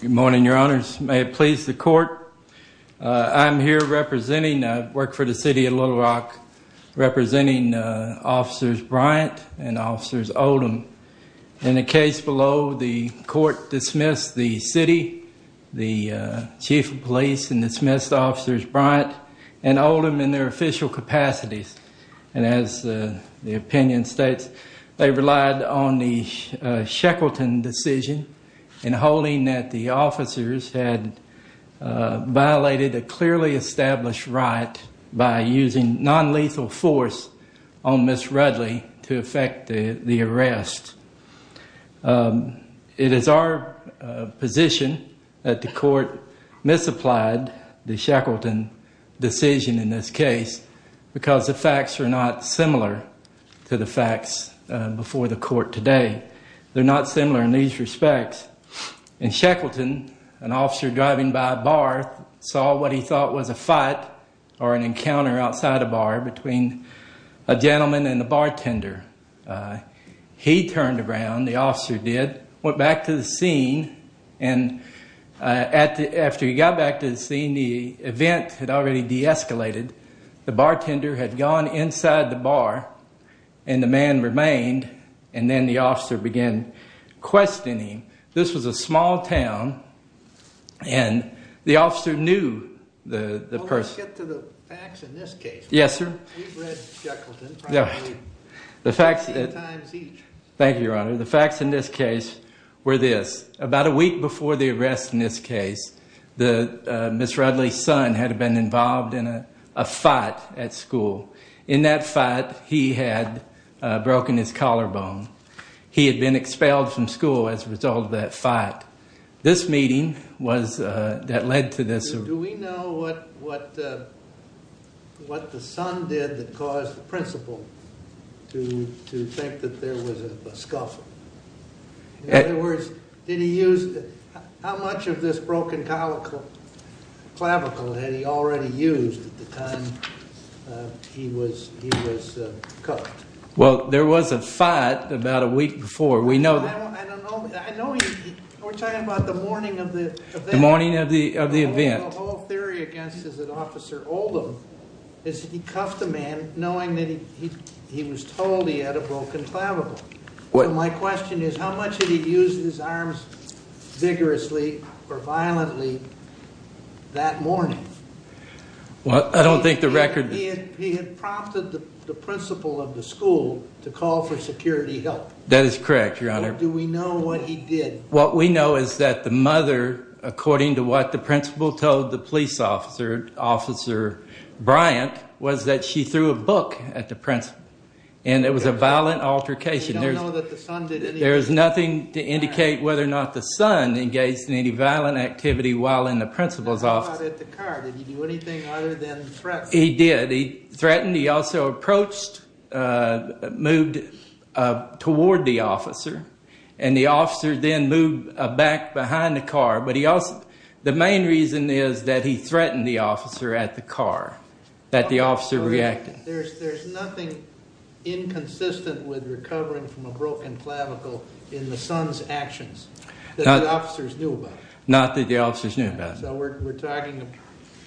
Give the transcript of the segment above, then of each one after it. Good morning, your honors. May it please the court. I'm here representing, I work for the city of Little Rock, representing officers Bryant and officers Oldham. In the case below, the court dismissed the city, the chief of police, and dismissed officers Bryant and Oldham in their official capacities. And as the opinion states, they relied on the Shackleton decision in holding that the officers had violated a clearly established right by using non-lethal force on Ms. Rudley to effect the arrest. It is our position that the court misapplied the Shackleton decision in this case because the facts are not similar to the facts before the court today. They're not similar in these respects. In Shackleton, an officer driving by a bar saw what he thought was a fight or an encounter outside a bar between a gentleman and the bartender. He turned around, the officer did, went back to the scene. The event had already de-escalated. The bartender had gone inside the bar and the man remained, and then the officer began questioning him. This was a small town and the officer knew the person. Well, let's get to the facts in this case. Yes, sir. We've read Shackleton probably 10 times each. Thank you, your honor. The facts in this case were this. About a week before the arrest in this case, Ms. Rudley's son had been involved in a fight at school. In that fight, he had broken his collarbone. He had been expelled from school as a result of that fight. This meeting was, that led to this. Do we know what the son did that caused the principal to think that there was a scuffle? In other words, did he use, how much of this broken clavicle had he already used at the time he was cuffed? Well, there was a fight about a week before. I don't know. I know he, we're talking about the morning of the event. The morning of the event. The whole theory against Officer Oldham is that he cuffed the man knowing that he was told he had a broken clavicle. My question is, how much did he use his arms vigorously or violently that morning? Well, I don't think the record... He had prompted the principal of the school to call for security help. That is correct, your honor. Do we know what he did? What we know is that the mother, according to what the principal told the police officer, officer Bryant, was that she threw a book at the principal. And it was a violent altercation. We don't know that the son did anything. There is nothing to indicate whether or not the son engaged in any violent activity while in the principal's office. He threw a book at the car. Did he do anything other than threaten? He did. He threatened. He also approached, moved toward the officer. And the officer then moved back behind the car. The main reason is that he threatened the officer at the car, that the officer reacted. There's nothing inconsistent with recovering from a broken clavicle in the son's actions that the officers knew about. Not that the officers knew about. So we're talking,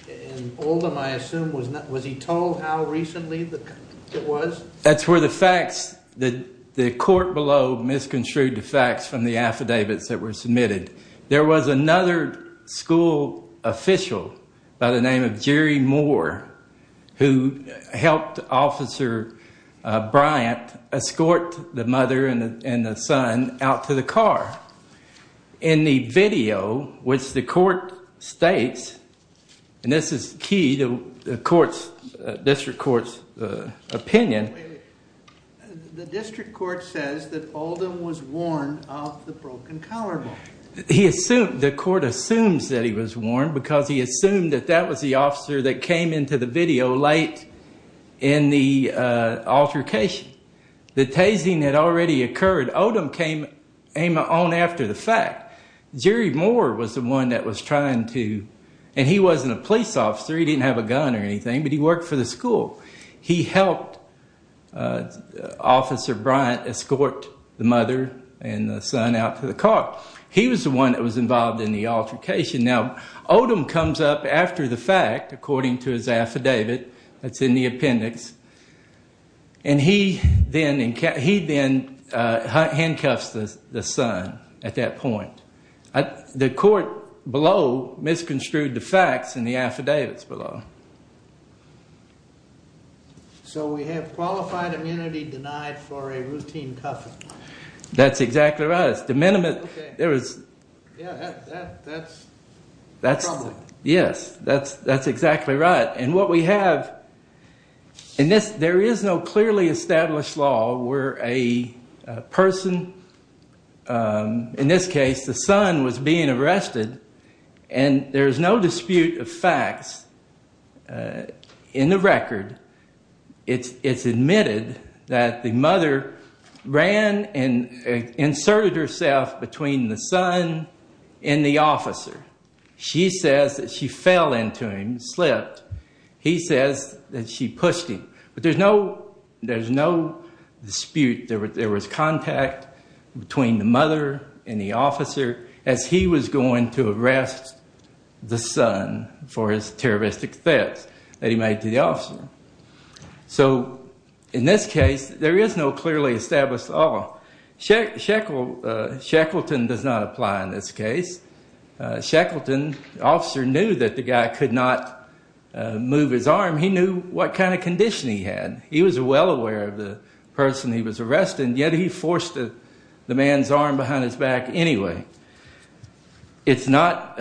in Oldham I assume, was he told how recently it was? That's where the facts, the court below misconstrued the facts from the affidavits that were submitted. There was another school official by the name of Jerry Moore who helped Officer Bryant escort the mother and the son out to the car. In the video, which the court states, and this is key to the court's, district court's opinion. The district court says that Oldham was warned of the broken collarbone. The court assumes that he was warned because he assumed that that was the officer that came into the video late in the altercation. The tasing had already occurred. Oldham came on after the fact. Jerry Moore was the one that was trying to, and he wasn't a police officer, he didn't have a gun or anything, but he worked for the school. He helped Officer Bryant escort the mother and the son out to the car. He was the one that was involved in the altercation. Now, Oldham comes up after the fact, according to his affidavit that's in the appendix, and he then handcuffs the son at that point. The court below misconstrued the facts in the affidavits below. So we have qualified immunity denied for a routine cuffing. That's exactly right. It's de minimis. Yeah, that's troubling. Yes, that's exactly right. There is no clearly established law where a person, in this case the son, was being arrested, and there's no dispute of facts in the record. It's admitted that the mother ran and inserted herself between the son and the officer. She says that she fell into him, slipped. He says that she pushed him, but there's no dispute. There was contact between the mother and the officer as he was going to arrest the son for his terroristic theft that he made to the officer. So in this case, there is no clearly established law. Shackleton does not apply in this case. Shackleton, the officer, knew that the guy could not move his arm. He knew what kind of condition he had. He was well aware of the person he was arresting, yet he forced the man's arm behind his back anyway. It's not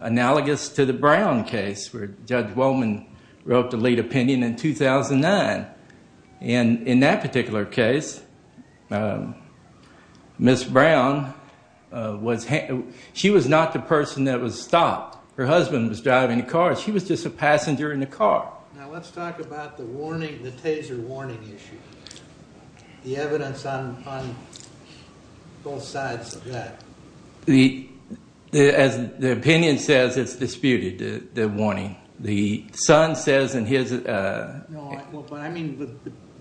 analogous to the Brown case where Judge Wollman wrote the lead opinion in 2009. In that particular case, Ms. Brown, she was not the person that was stopped. Her husband was driving the car. She was just a passenger in the car. As the opinion says, it's disputed, the warning.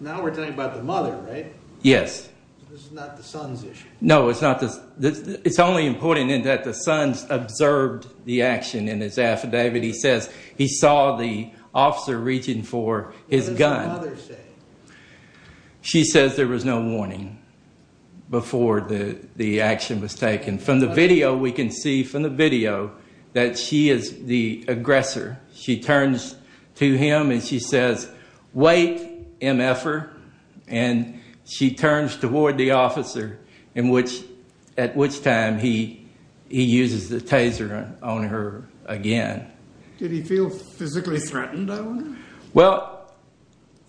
Now we're talking about the mother, right? Yes. This is not the son's issue. No, it's not. It's only important that the son observed the action in his affidavit. He says he saw the officer reaching for his gun. What does the mother say? She says there was no warning before the action was taken. From the video, we can see from the video that she is the aggressor. She turns to him and she says, Did he feel physically threatened, I wonder? Well,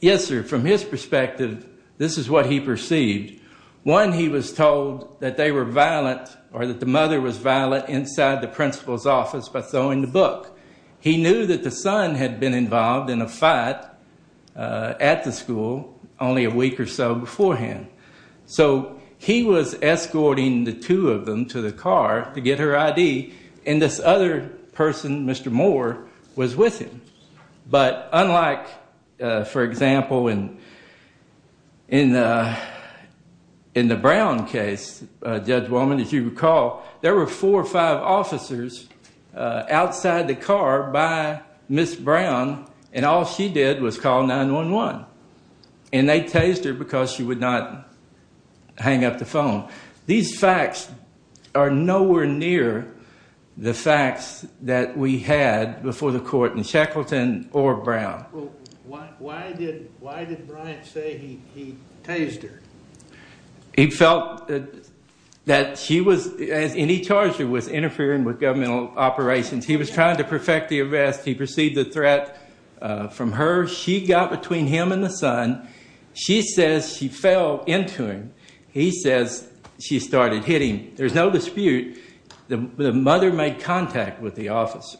yes, sir. From his perspective, this is what he perceived. One, he was told that they were violent or that the mother was violent inside the principal's office by throwing the book. He knew that the son had been involved in a fight at the school only a week or so beforehand. So he was escorting the two of them to the car to get her ID, and this other person, Mr. Moore, was with him. But unlike, for example, in the Brown case, Judge Wallman, if you recall, there were four or five officers outside the car by Ms. Brown, and all she did was call 911. And they tased her because she would not hang up the phone. These facts are nowhere near the facts that we had before the court in Shackleton or Brown. Why did Bryant say he tased her? He felt that she was, and he charged her with interfering with governmental operations. He was trying to perfect the arrest. He perceived the threat from her. She got between him and the son. She says she fell into him. He says she started hitting him. There's no dispute the mother made contact with the officer,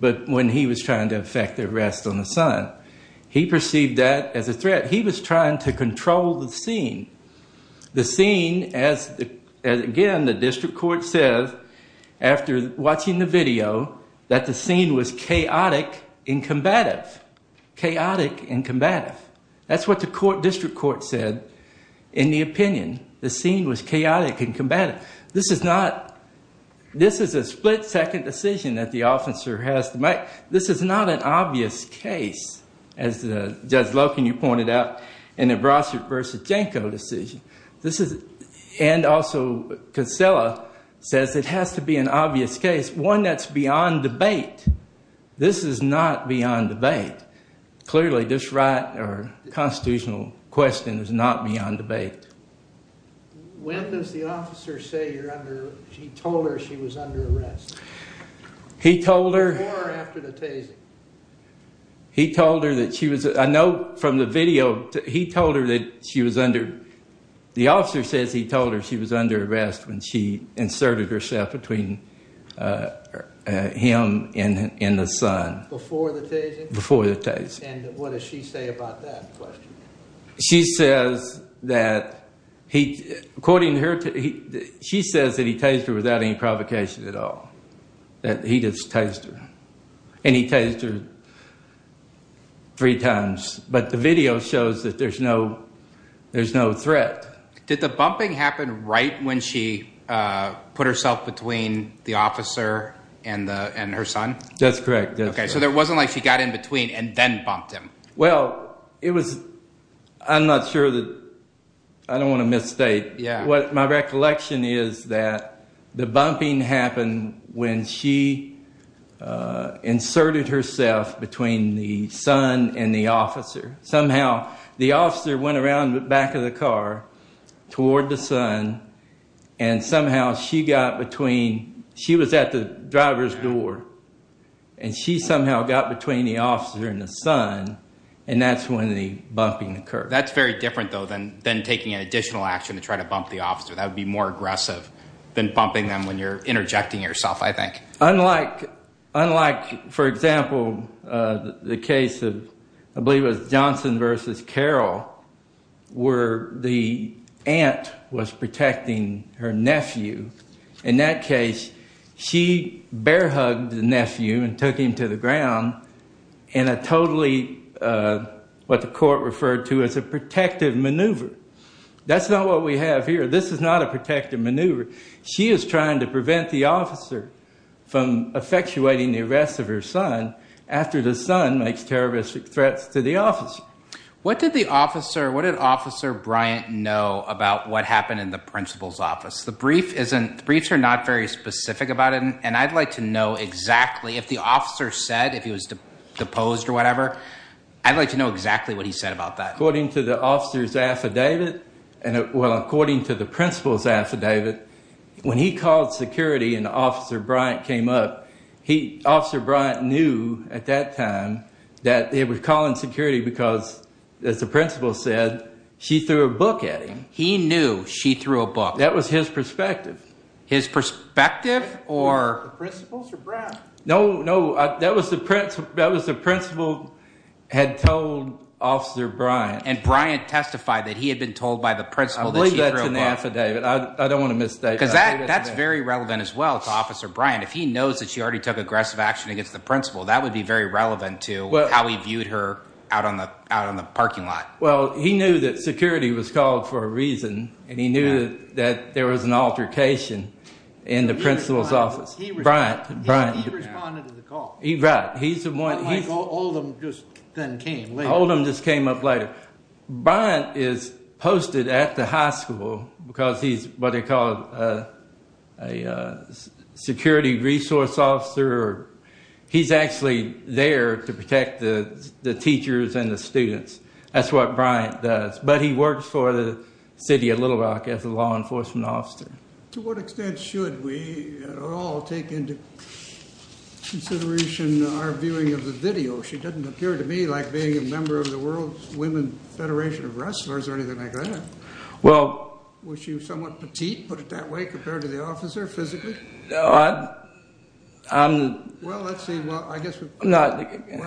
but when he was trying to affect the arrest on the son, he perceived that as a threat. He was trying to control the scene. The scene, as again, the district court says after watching the video, that the scene was chaotic and combative. Chaotic and combative. That's what the district court said in the opinion. The scene was chaotic and combative. This is a split-second decision that the officer has to make. This is not an obvious case, as Judge Loken, you pointed out, in the Brossard v. Janko decision. And also Kinsella says it has to be an obvious case, one that's beyond debate. This is not beyond debate. Clearly, this right or constitutional question is not beyond debate. When does the officer say you're under – he told her she was under arrest? He told her – Before or after the tasing? He told her that she was – I know from the video, he told her that she was under – the officer says he told her she was under arrest when she inserted herself between him and the son. Before the tasing? Before the tasing. And what does she say about that question? She says that he – according to her, she says that he tased her without any provocation at all. That he just tased her. And he tased her three times. But the video shows that there's no threat. Did the bumping happen right when she put herself between the officer and her son? That's correct. Okay, so there wasn't like she got in between and then bumped him. Well, it was – I'm not sure that – I don't want to misstate. My recollection is that the bumping happened when she inserted herself between the son and the officer. Somehow the officer went around the back of the car toward the son, and somehow she got between – and she somehow got between the officer and the son, and that's when the bumping occurred. That's very different, though, than taking an additional action to try to bump the officer. That would be more aggressive than bumping them when you're interjecting yourself, I think. Unlike, for example, the case of – I believe it was Johnson v. Carroll where the aunt was protecting her nephew. In that case, she bear-hugged the nephew and took him to the ground in a totally – what the court referred to as a protective maneuver. That's not what we have here. This is not a protective maneuver. She is trying to prevent the officer from effectuating the arrest of her son after the son makes terroristic threats to the officer. What did the officer – what did Officer Bryant know about what happened in the principal's office? The brief isn't – the briefs are not very specific about it, and I'd like to know exactly if the officer said – if he was deposed or whatever. I'd like to know exactly what he said about that. According to the officer's affidavit – well, according to the principal's affidavit, when he called security and Officer Bryant came up, Officer Bryant knew at that time that he was calling security because, as the principal said, she threw a book at him. He knew she threw a book. That was his perspective. His perspective or – Was it the principal's or Bryant's? No, no. That was the principal had told Officer Bryant. And Bryant testified that he had been told by the principal that she threw a book. I'll leave that to the affidavit. I don't want to misstate that. Because that's very relevant as well to Officer Bryant. If he knows that she already took aggressive action against the principal, that would be very relevant to how he viewed her out on the parking lot. Well, he knew that security was called for a reason. And he knew that there was an altercation in the principal's office. He responded to the call. Right. Unlike Oldham just then came later. Oldham just came up later. Bryant is posted at the high school because he's what they call a security resource officer. He's actually there to protect the teachers and the students. That's what Bryant does. But he works for the city of Little Rock as a law enforcement officer. To what extent should we at all take into consideration our viewing of the video? She doesn't appear to me like being a member of the World Women's Federation of Wrestlers or anything like that. Well – Was she somewhat petite, put it that way, compared to the officer physically? Well, let's see. Well, I guess the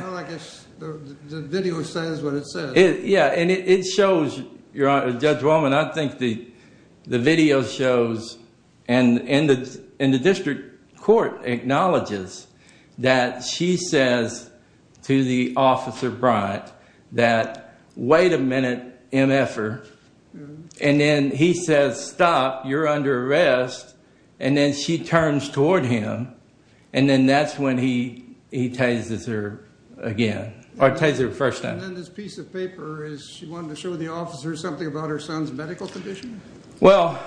video says what it says. Yeah. And it shows, Judge Wallman, I think the video shows and the district court acknowledges that she says to the officer Bryant that, Wait a minute, MF-er. And then he says, Stop, you're under arrest. And then she turns toward him. And then that's when he tases her again. Or tases her the first time. And then this piece of paper is she wanted to show the officer something about her son's medical condition? Well,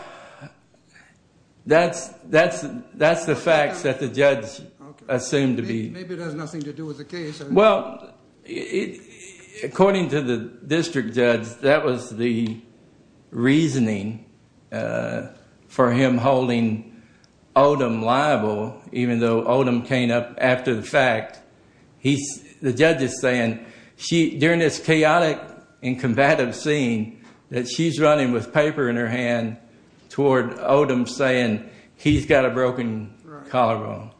that's the facts that the judge assumed to be. Maybe it has nothing to do with the case. Well, according to the district judge, that was the reasoning for him holding Odom liable, even though Odom came up after the fact. The judge is saying during this chaotic and combative scene that she's running with paper in her hand toward Odom saying he's got a broken collarbone.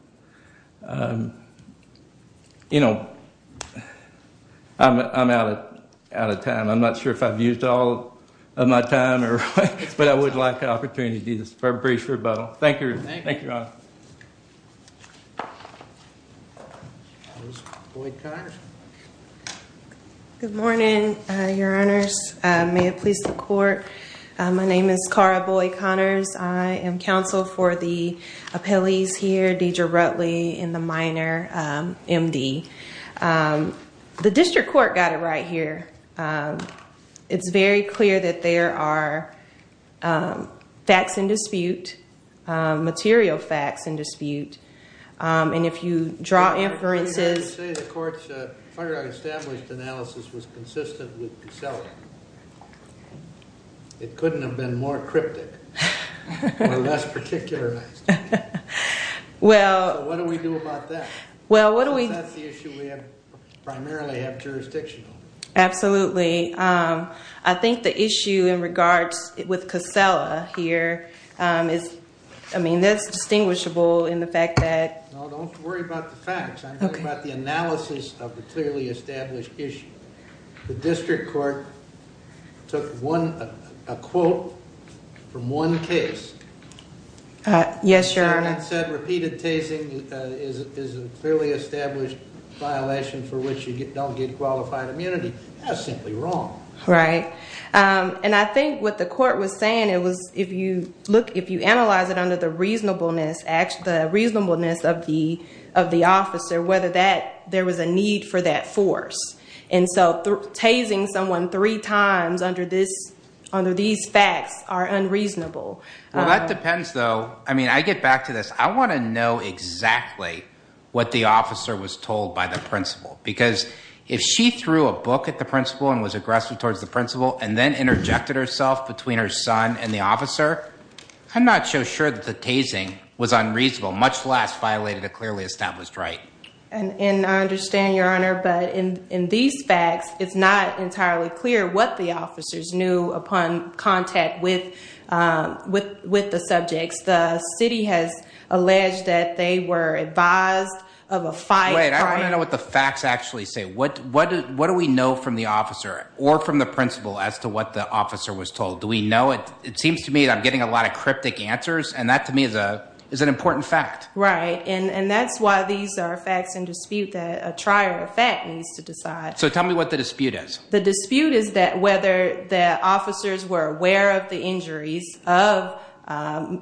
You know, I'm out of time. I'm not sure if I've used all of my time, but I would like the opportunity to do this brief rebuttal. Thank you. Thank you, Your Honor. Good morning, Your Honors. May it please the court. My name is Kara Boyd Connors. I am counsel for the appellees here, Deidre Rutley and the minor, M.D. The district court got it right here. It's very clear that there are facts in dispute, material facts in dispute. And if you draw inferences. The court's established analysis was consistent with Casella. It couldn't have been more cryptic or less particular. Well, what do we do about that? Well, what do we. That's the issue we primarily have jurisdiction over. Absolutely. I think the issue in regards with Casella here is, I mean, that's distinguishable in the fact that. Don't worry about the facts. I'm talking about the analysis of the clearly established issue. The district court took a quote from one case. Yes, Your Honor. And said repeated tasing is a clearly established violation for which you don't get qualified immunity. That's simply wrong. Right. And I think what the court was saying, it was, if you look, if you analyze it under the reasonableness, the reasonableness of the officer, whether there was a need for that force. And so tasing someone three times under these facts are unreasonable. Well, that depends, though. I mean, I get back to this. I want to know exactly what the officer was told by the principal. Because if she threw a book at the principal and was aggressive towards the principal and then interjected herself between her son and the officer, I'm not so sure that the tasing was unreasonable, much less violated a clearly established right. And I understand, Your Honor, but in these facts, it's not entirely clear what the officers knew upon contact with the subjects. The city has alleged that they were advised of a fight. Wait, I want to know what the facts actually say. What do we know from the officer or from the principal as to what the officer was told? Do we know it? It seems to me that I'm getting a lot of cryptic answers, and that to me is an important fact. Right. And that's why these are facts in dispute that a trier of fact needs to decide. So tell me what the dispute is. The dispute is that whether the officers were aware of the injuries of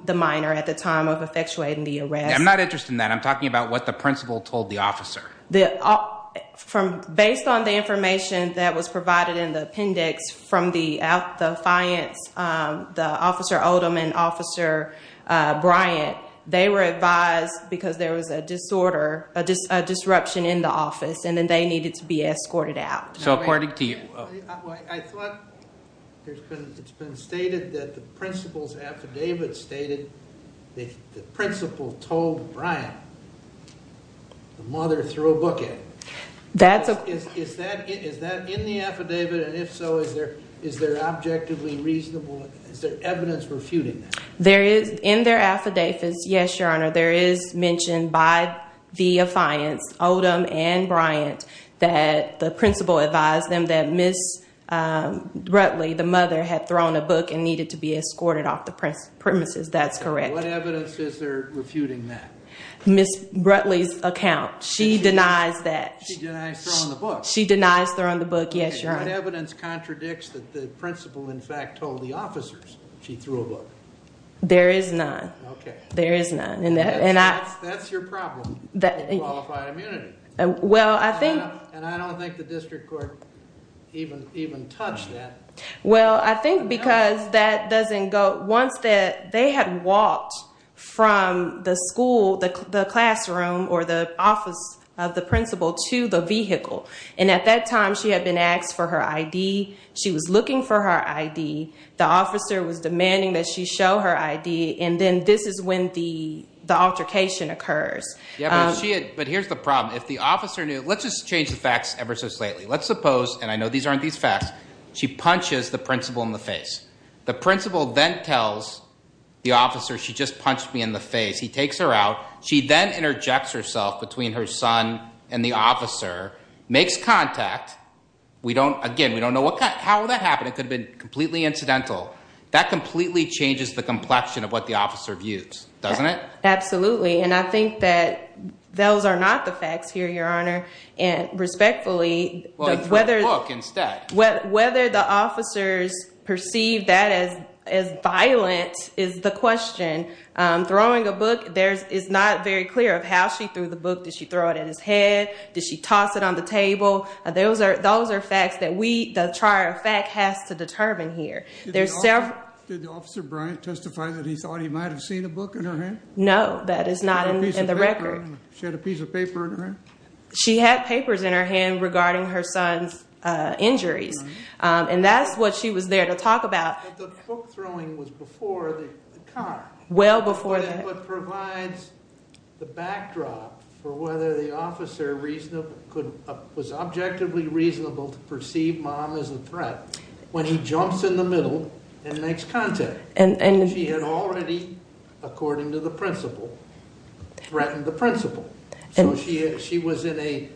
the minor at the time of effectuating the arrest. I'm not interested in that. I'm talking about what the principal told the officer. Based on the information that was provided in the appendix from the defiance, the Officer Odom and Officer Bryant, they were advised because there was a disorder, a disruption in the office, and then they needed to be escorted out. So according to you. I thought it's been stated that the principal's affidavit stated that the principal told Bryant the mother threw a book at him. Is that in the affidavit? And if so, is there objectively reasonable evidence refuting that? In their affidavits, yes, Your Honor, there is mention by the defiance, Odom and Bryant, that the principal advised them that Ms. Brutley, the mother, had thrown a book and needed to be escorted off the premises. That's correct. What evidence is there refuting that? Ms. Brutley's account. She denies that. She denies throwing the book? She denies throwing the book, yes, Your Honor. What evidence contradicts that the principal, in fact, told the officers she threw a book? There is none. Okay. There is none. That's your problem with qualified immunity. And I don't think the district court even touched that. Well, I think because that doesn't go. Once they had walked from the school, the classroom, or the office of the principal to the vehicle, and at that time she had been asked for her ID. She was looking for her ID. The officer was demanding that she show her ID, and then this is when the altercation occurs. But here's the problem. Let's just change the facts ever so slightly. Let's suppose, and I know these aren't these facts, she punches the principal in the face. The principal then tells the officer, she just punched me in the face. He takes her out. She then interjects herself between her son and the officer, makes contact. Again, we don't know how that happened. It could have been completely incidental. That completely changes the complexion of what the officer views, doesn't it? Absolutely. And I think that those are not the facts here, Your Honor. And respectfully, whether the officers perceive that as violent is the question. Throwing a book, it's not very clear of how she threw the book. Did she throw it at his head? Did she toss it on the table? Those are facts that we, the trier of fact, has to determine here. Did Officer Bryant testify that he thought he might have seen a book in her hand? No, that is not in the record. She had a piece of paper in her hand? She had papers in her hand regarding her son's injuries. And that's what she was there to talk about. But the book throwing was before the car. Well before the car. That's what provides the backdrop for whether the officer was objectively reasonable to perceive Mom as a threat when he jumps in the middle and makes contact. She had already, according to the principle, threatened the principal. So she was in a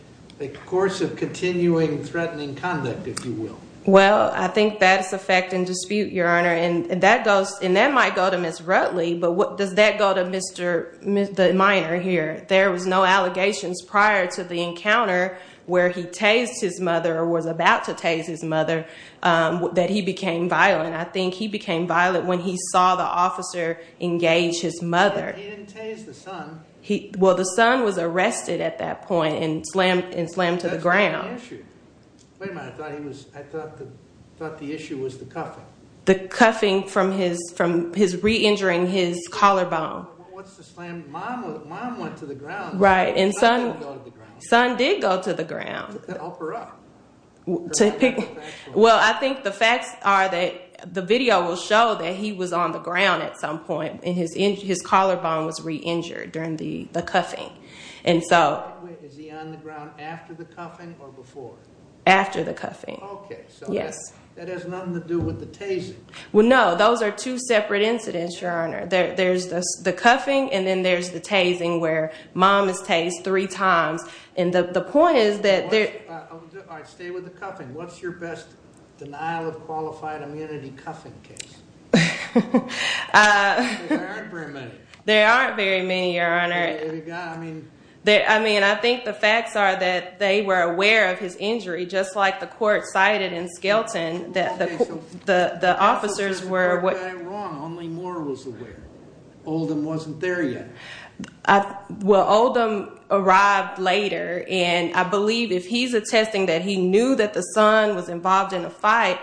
course of continuing threatening conduct, if you will. Well, I think that's a fact in dispute, Your Honor. And that might go to Ms. Rutley, but does that go to Mr. Minor here? There was no allegations prior to the encounter where he tased his mother or was about to tase his mother that he became violent. I think he became violent when he saw the officer engage his mother. He didn't tase the son. Well, the son was arrested at that point and slammed to the ground. That's not the issue. Wait a minute. I thought the issue was the cuffing. The cuffing from his re-injuring his collarbone. What's the slam? Mom went to the ground. Right, and son did go to the ground. To help her up. Well, I think the facts are that the video will show that he was on the ground at some point and his collarbone was re-injured during the cuffing. Is he on the ground after the cuffing or before? After the cuffing. Okay, so that has nothing to do with the tasing. Well, no. Those are two separate incidents, Your Honor. There's the cuffing and then there's the tasing where mom is tased three times. All right, stay with the cuffing. What's your best denial of qualified immunity cuffing case? There aren't very many. There aren't very many, Your Honor. I mean, I think the facts are that they were aware of his injury, just like the court cited in Skelton that the officers were. Only Moore was aware. Oldham wasn't there yet. Well, Oldham arrived later, and I believe if he's attesting that he knew that the son was involved in a fight,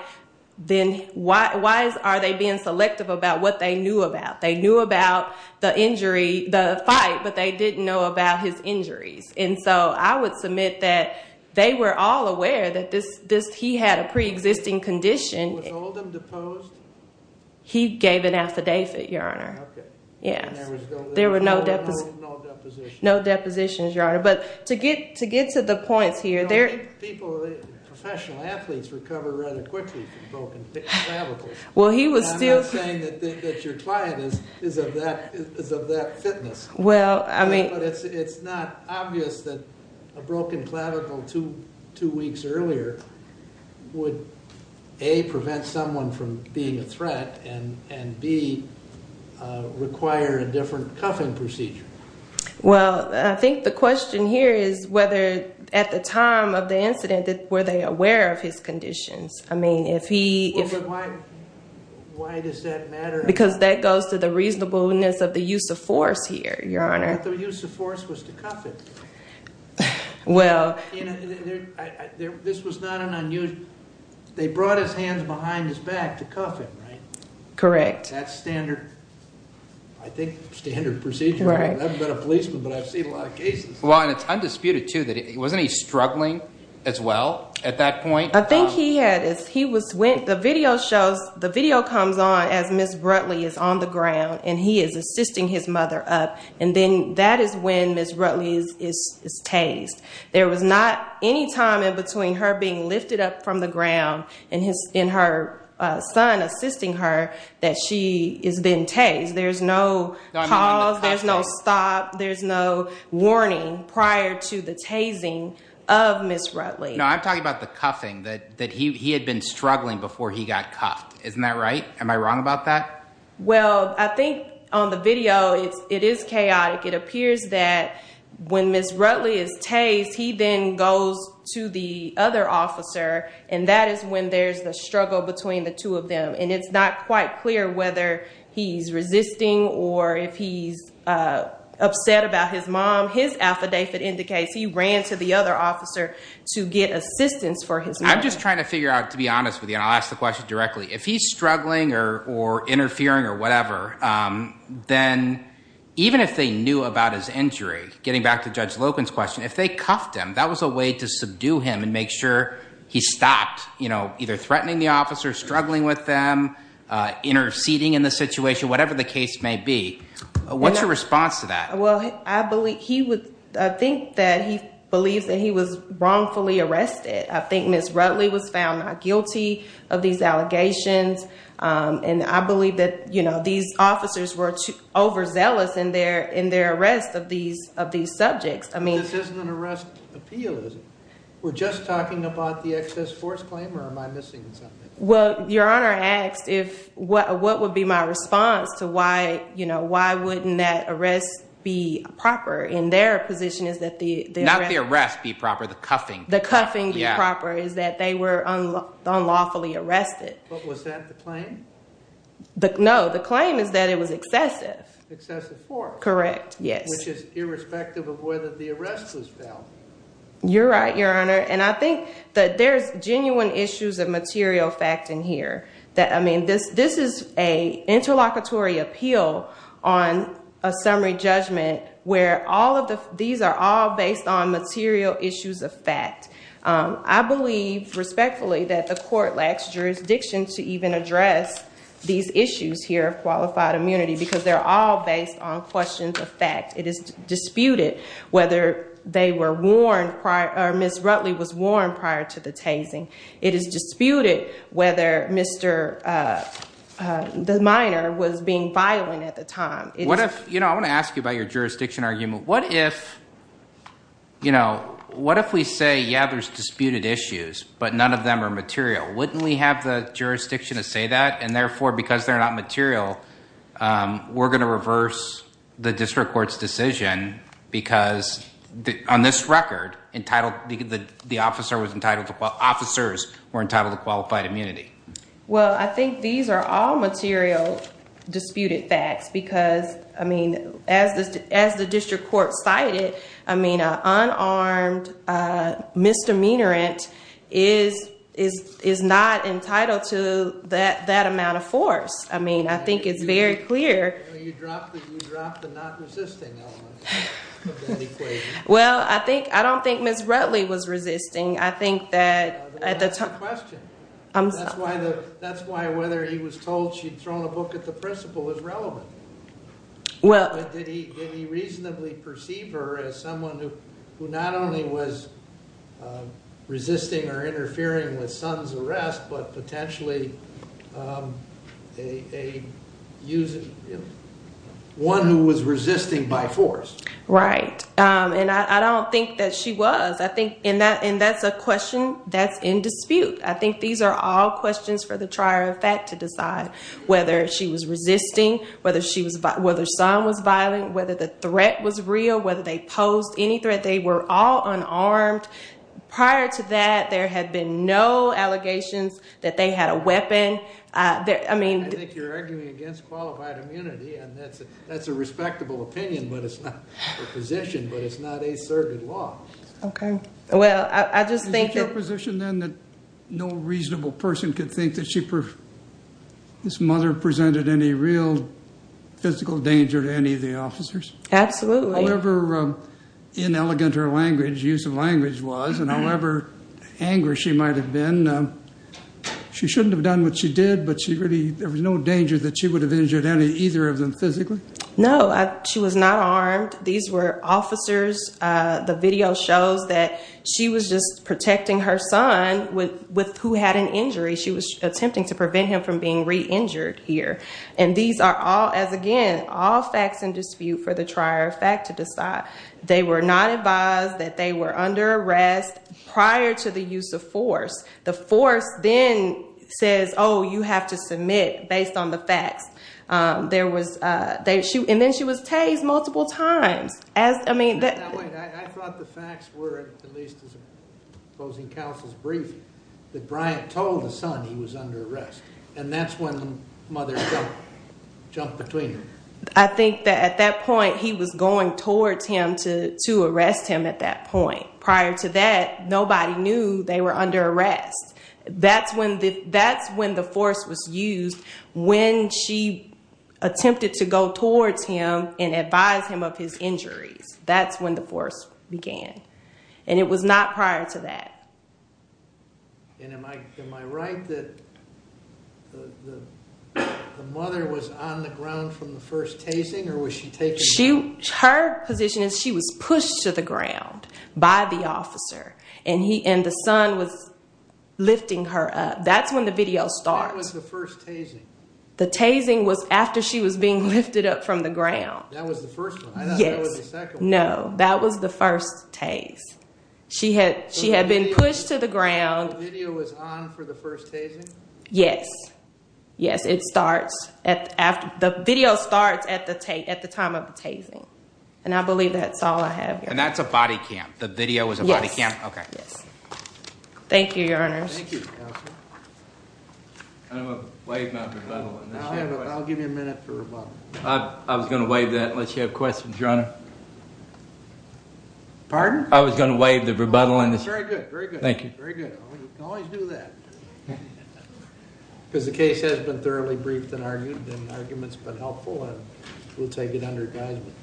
then why are they being selective about what they knew about? They knew about the injury, the fight, but they didn't know about his injuries. And so I would submit that they were all aware that he had a preexisting condition. Was Oldham deposed? He gave an affidavit, Your Honor. Okay. Yes. There were no depositions. No depositions, Your Honor. But to get to the points here, there- People, professional athletes recover rather quickly from broken clavicles. Well, he was still- I'm not saying that your client is of that fitness. Well, I mean- But it's not obvious that a broken clavicle two weeks earlier would, A, prevent someone from being a threat, and B, require a different cuffing procedure. Well, I think the question here is whether at the time of the incident were they aware of his conditions. I mean, if he- Well, but why does that matter? Because that goes to the reasonableness of the use of force here, Your Honor. But the use of force was to cuff him. Well- This was not an unusual- They brought his hands behind his back to cuff him, right? Correct. That's standard, I think, standard procedure. Right. I haven't been a policeman, but I've seen a lot of cases. Well, and it's undisputed, too, that wasn't he struggling as well at that point? I think he had- The video comes on as Ms. Rutley is on the ground, and he is assisting his mother up, and then that is when Ms. Rutley is tased. There was not any time in between her being lifted up from the ground and her son assisting her that she has been tased. There's no pause. There's no stop. There's no warning prior to the tasing of Ms. Rutley. No, I'm talking about the cuffing, that he had been struggling before he got cuffed. Isn't that right? Am I wrong about that? Well, I think on the video it is chaotic. It appears that when Ms. Rutley is tased, he then goes to the other officer, and that is when there's the struggle between the two of them, and it's not quite clear whether he's resisting or if he's upset about his mom. His affidavit indicates he ran to the other officer to get assistance for his mother. I'm just trying to figure out, to be honest with you, and I'll ask the question directly. If he's struggling or interfering or whatever, then even if they knew about his injury, getting back to Judge Loken's question, if they cuffed him, that was a way to subdue him and make sure he stopped either threatening the officer, struggling with them, interceding in the situation, whatever the case may be. What's your response to that? Well, I think that he believes that he was wrongfully arrested. I think Ms. Rutley was found not guilty of these allegations, and I believe that these officers were overzealous in their arrest of these subjects. But this isn't an arrest appeal, is it? We're just talking about the excess force claim, or am I missing something? Well, Your Honor asked what would be my response to why wouldn't that arrest be proper. And their position is that the arrest— Not the arrest be proper, the cuffing. The cuffing be proper is that they were unlawfully arrested. But was that the claim? No, the claim is that it was excessive. Excessive force. Correct, yes. Which is irrespective of whether the arrest was valid. You're right, Your Honor, and I think that there's genuine issues of material fact in here. This is an interlocutory appeal on a summary judgment where these are all based on material issues of fact. I believe respectfully that the court lacks jurisdiction to even address these issues here of qualified immunity because they're all based on questions of fact. It is disputed whether Ms. Rutley was warned prior to the tasing. It is disputed whether Mr. Minor was being violent at the time. I want to ask you about your jurisdiction argument. What if we say, yeah, there's disputed issues, but none of them are material? Wouldn't we have the jurisdiction to say that? And therefore, because they're not material, we're going to reverse the district court's decision because on this record, the officers were entitled to qualified immunity. Well, I think these are all material disputed facts because, I mean, as the district court cited, I mean, an unarmed misdemeanorant is not entitled to that amount of force. I mean, I think it's very clear. You dropped the not resisting element of that equation. Well, I don't think Ms. Rutley was resisting. I think that at the time— That's the question. That's why whether he was told she'd thrown a book at the principal is relevant. Did he reasonably perceive her as someone who not only was resisting or interfering with son's arrest, but potentially one who was resisting by force? Right, and I don't think that she was, and that's a question that's in dispute. I think these are all questions for the trier of fact to decide whether she was resisting, whether her son was violent, whether the threat was real, whether they posed any threat. They were all unarmed. Prior to that, there had been no allegations that they had a weapon. I think you're arguing against qualified immunity, and that's a respectable opinion, but it's not a position, but it's not asserted law. Okay. Well, I just think that— This mother presented any real physical danger to any of the officers. Absolutely. However inelegant her language, use of language was, and however angry she might have been, she shouldn't have done what she did, but there was no danger that she would have injured either of them physically? No. She was not armed. These were officers. The video shows that she was just protecting her son with who had an injury. She was attempting to prevent him from being re-injured here. And these are all, as again, all facts in dispute for the trier of fact to decide. They were not advised that they were under arrest prior to the use of force. The force then says, oh, you have to submit based on the facts. And then she was tased multiple times. I thought the facts were, at least as opposing counsel's briefing, that Bryant told the son he was under arrest, and that's when the mother jumped between them. I think that at that point he was going towards him to arrest him at that point. Prior to that, nobody knew they were under arrest. That's when the force was used when she attempted to go towards him and advise him of his injuries. That's when the force began. And it was not prior to that. And am I right that the mother was on the ground from the first tasing, or was she taken? Her position is she was pushed to the ground by the officer. And the son was lifting her up. That's when the video starts. That was the first tasing. The tasing was after she was being lifted up from the ground. That was the first one. I thought that was the second one. No, that was the first tase. She had been pushed to the ground. The video was on for the first tasing? Yes. Yes, it starts at the time of the tasing. And I believe that's all I have here. And that's a body cam. The video was a body cam? Yes. Thank you, Your Honors. Thank you, Counselor. I'm going to waive my rebuttal. I'll give you a minute for rebuttal. I was going to waive that unless you have questions, Your Honor. Pardon? I was going to waive the rebuttal. Very good. Very good. Thank you. Very good. You can always do that. Because the case has been thoroughly briefed and argued, and the argument's been helpful, and we'll take it under advisement.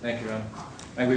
Thank you, Your Honor.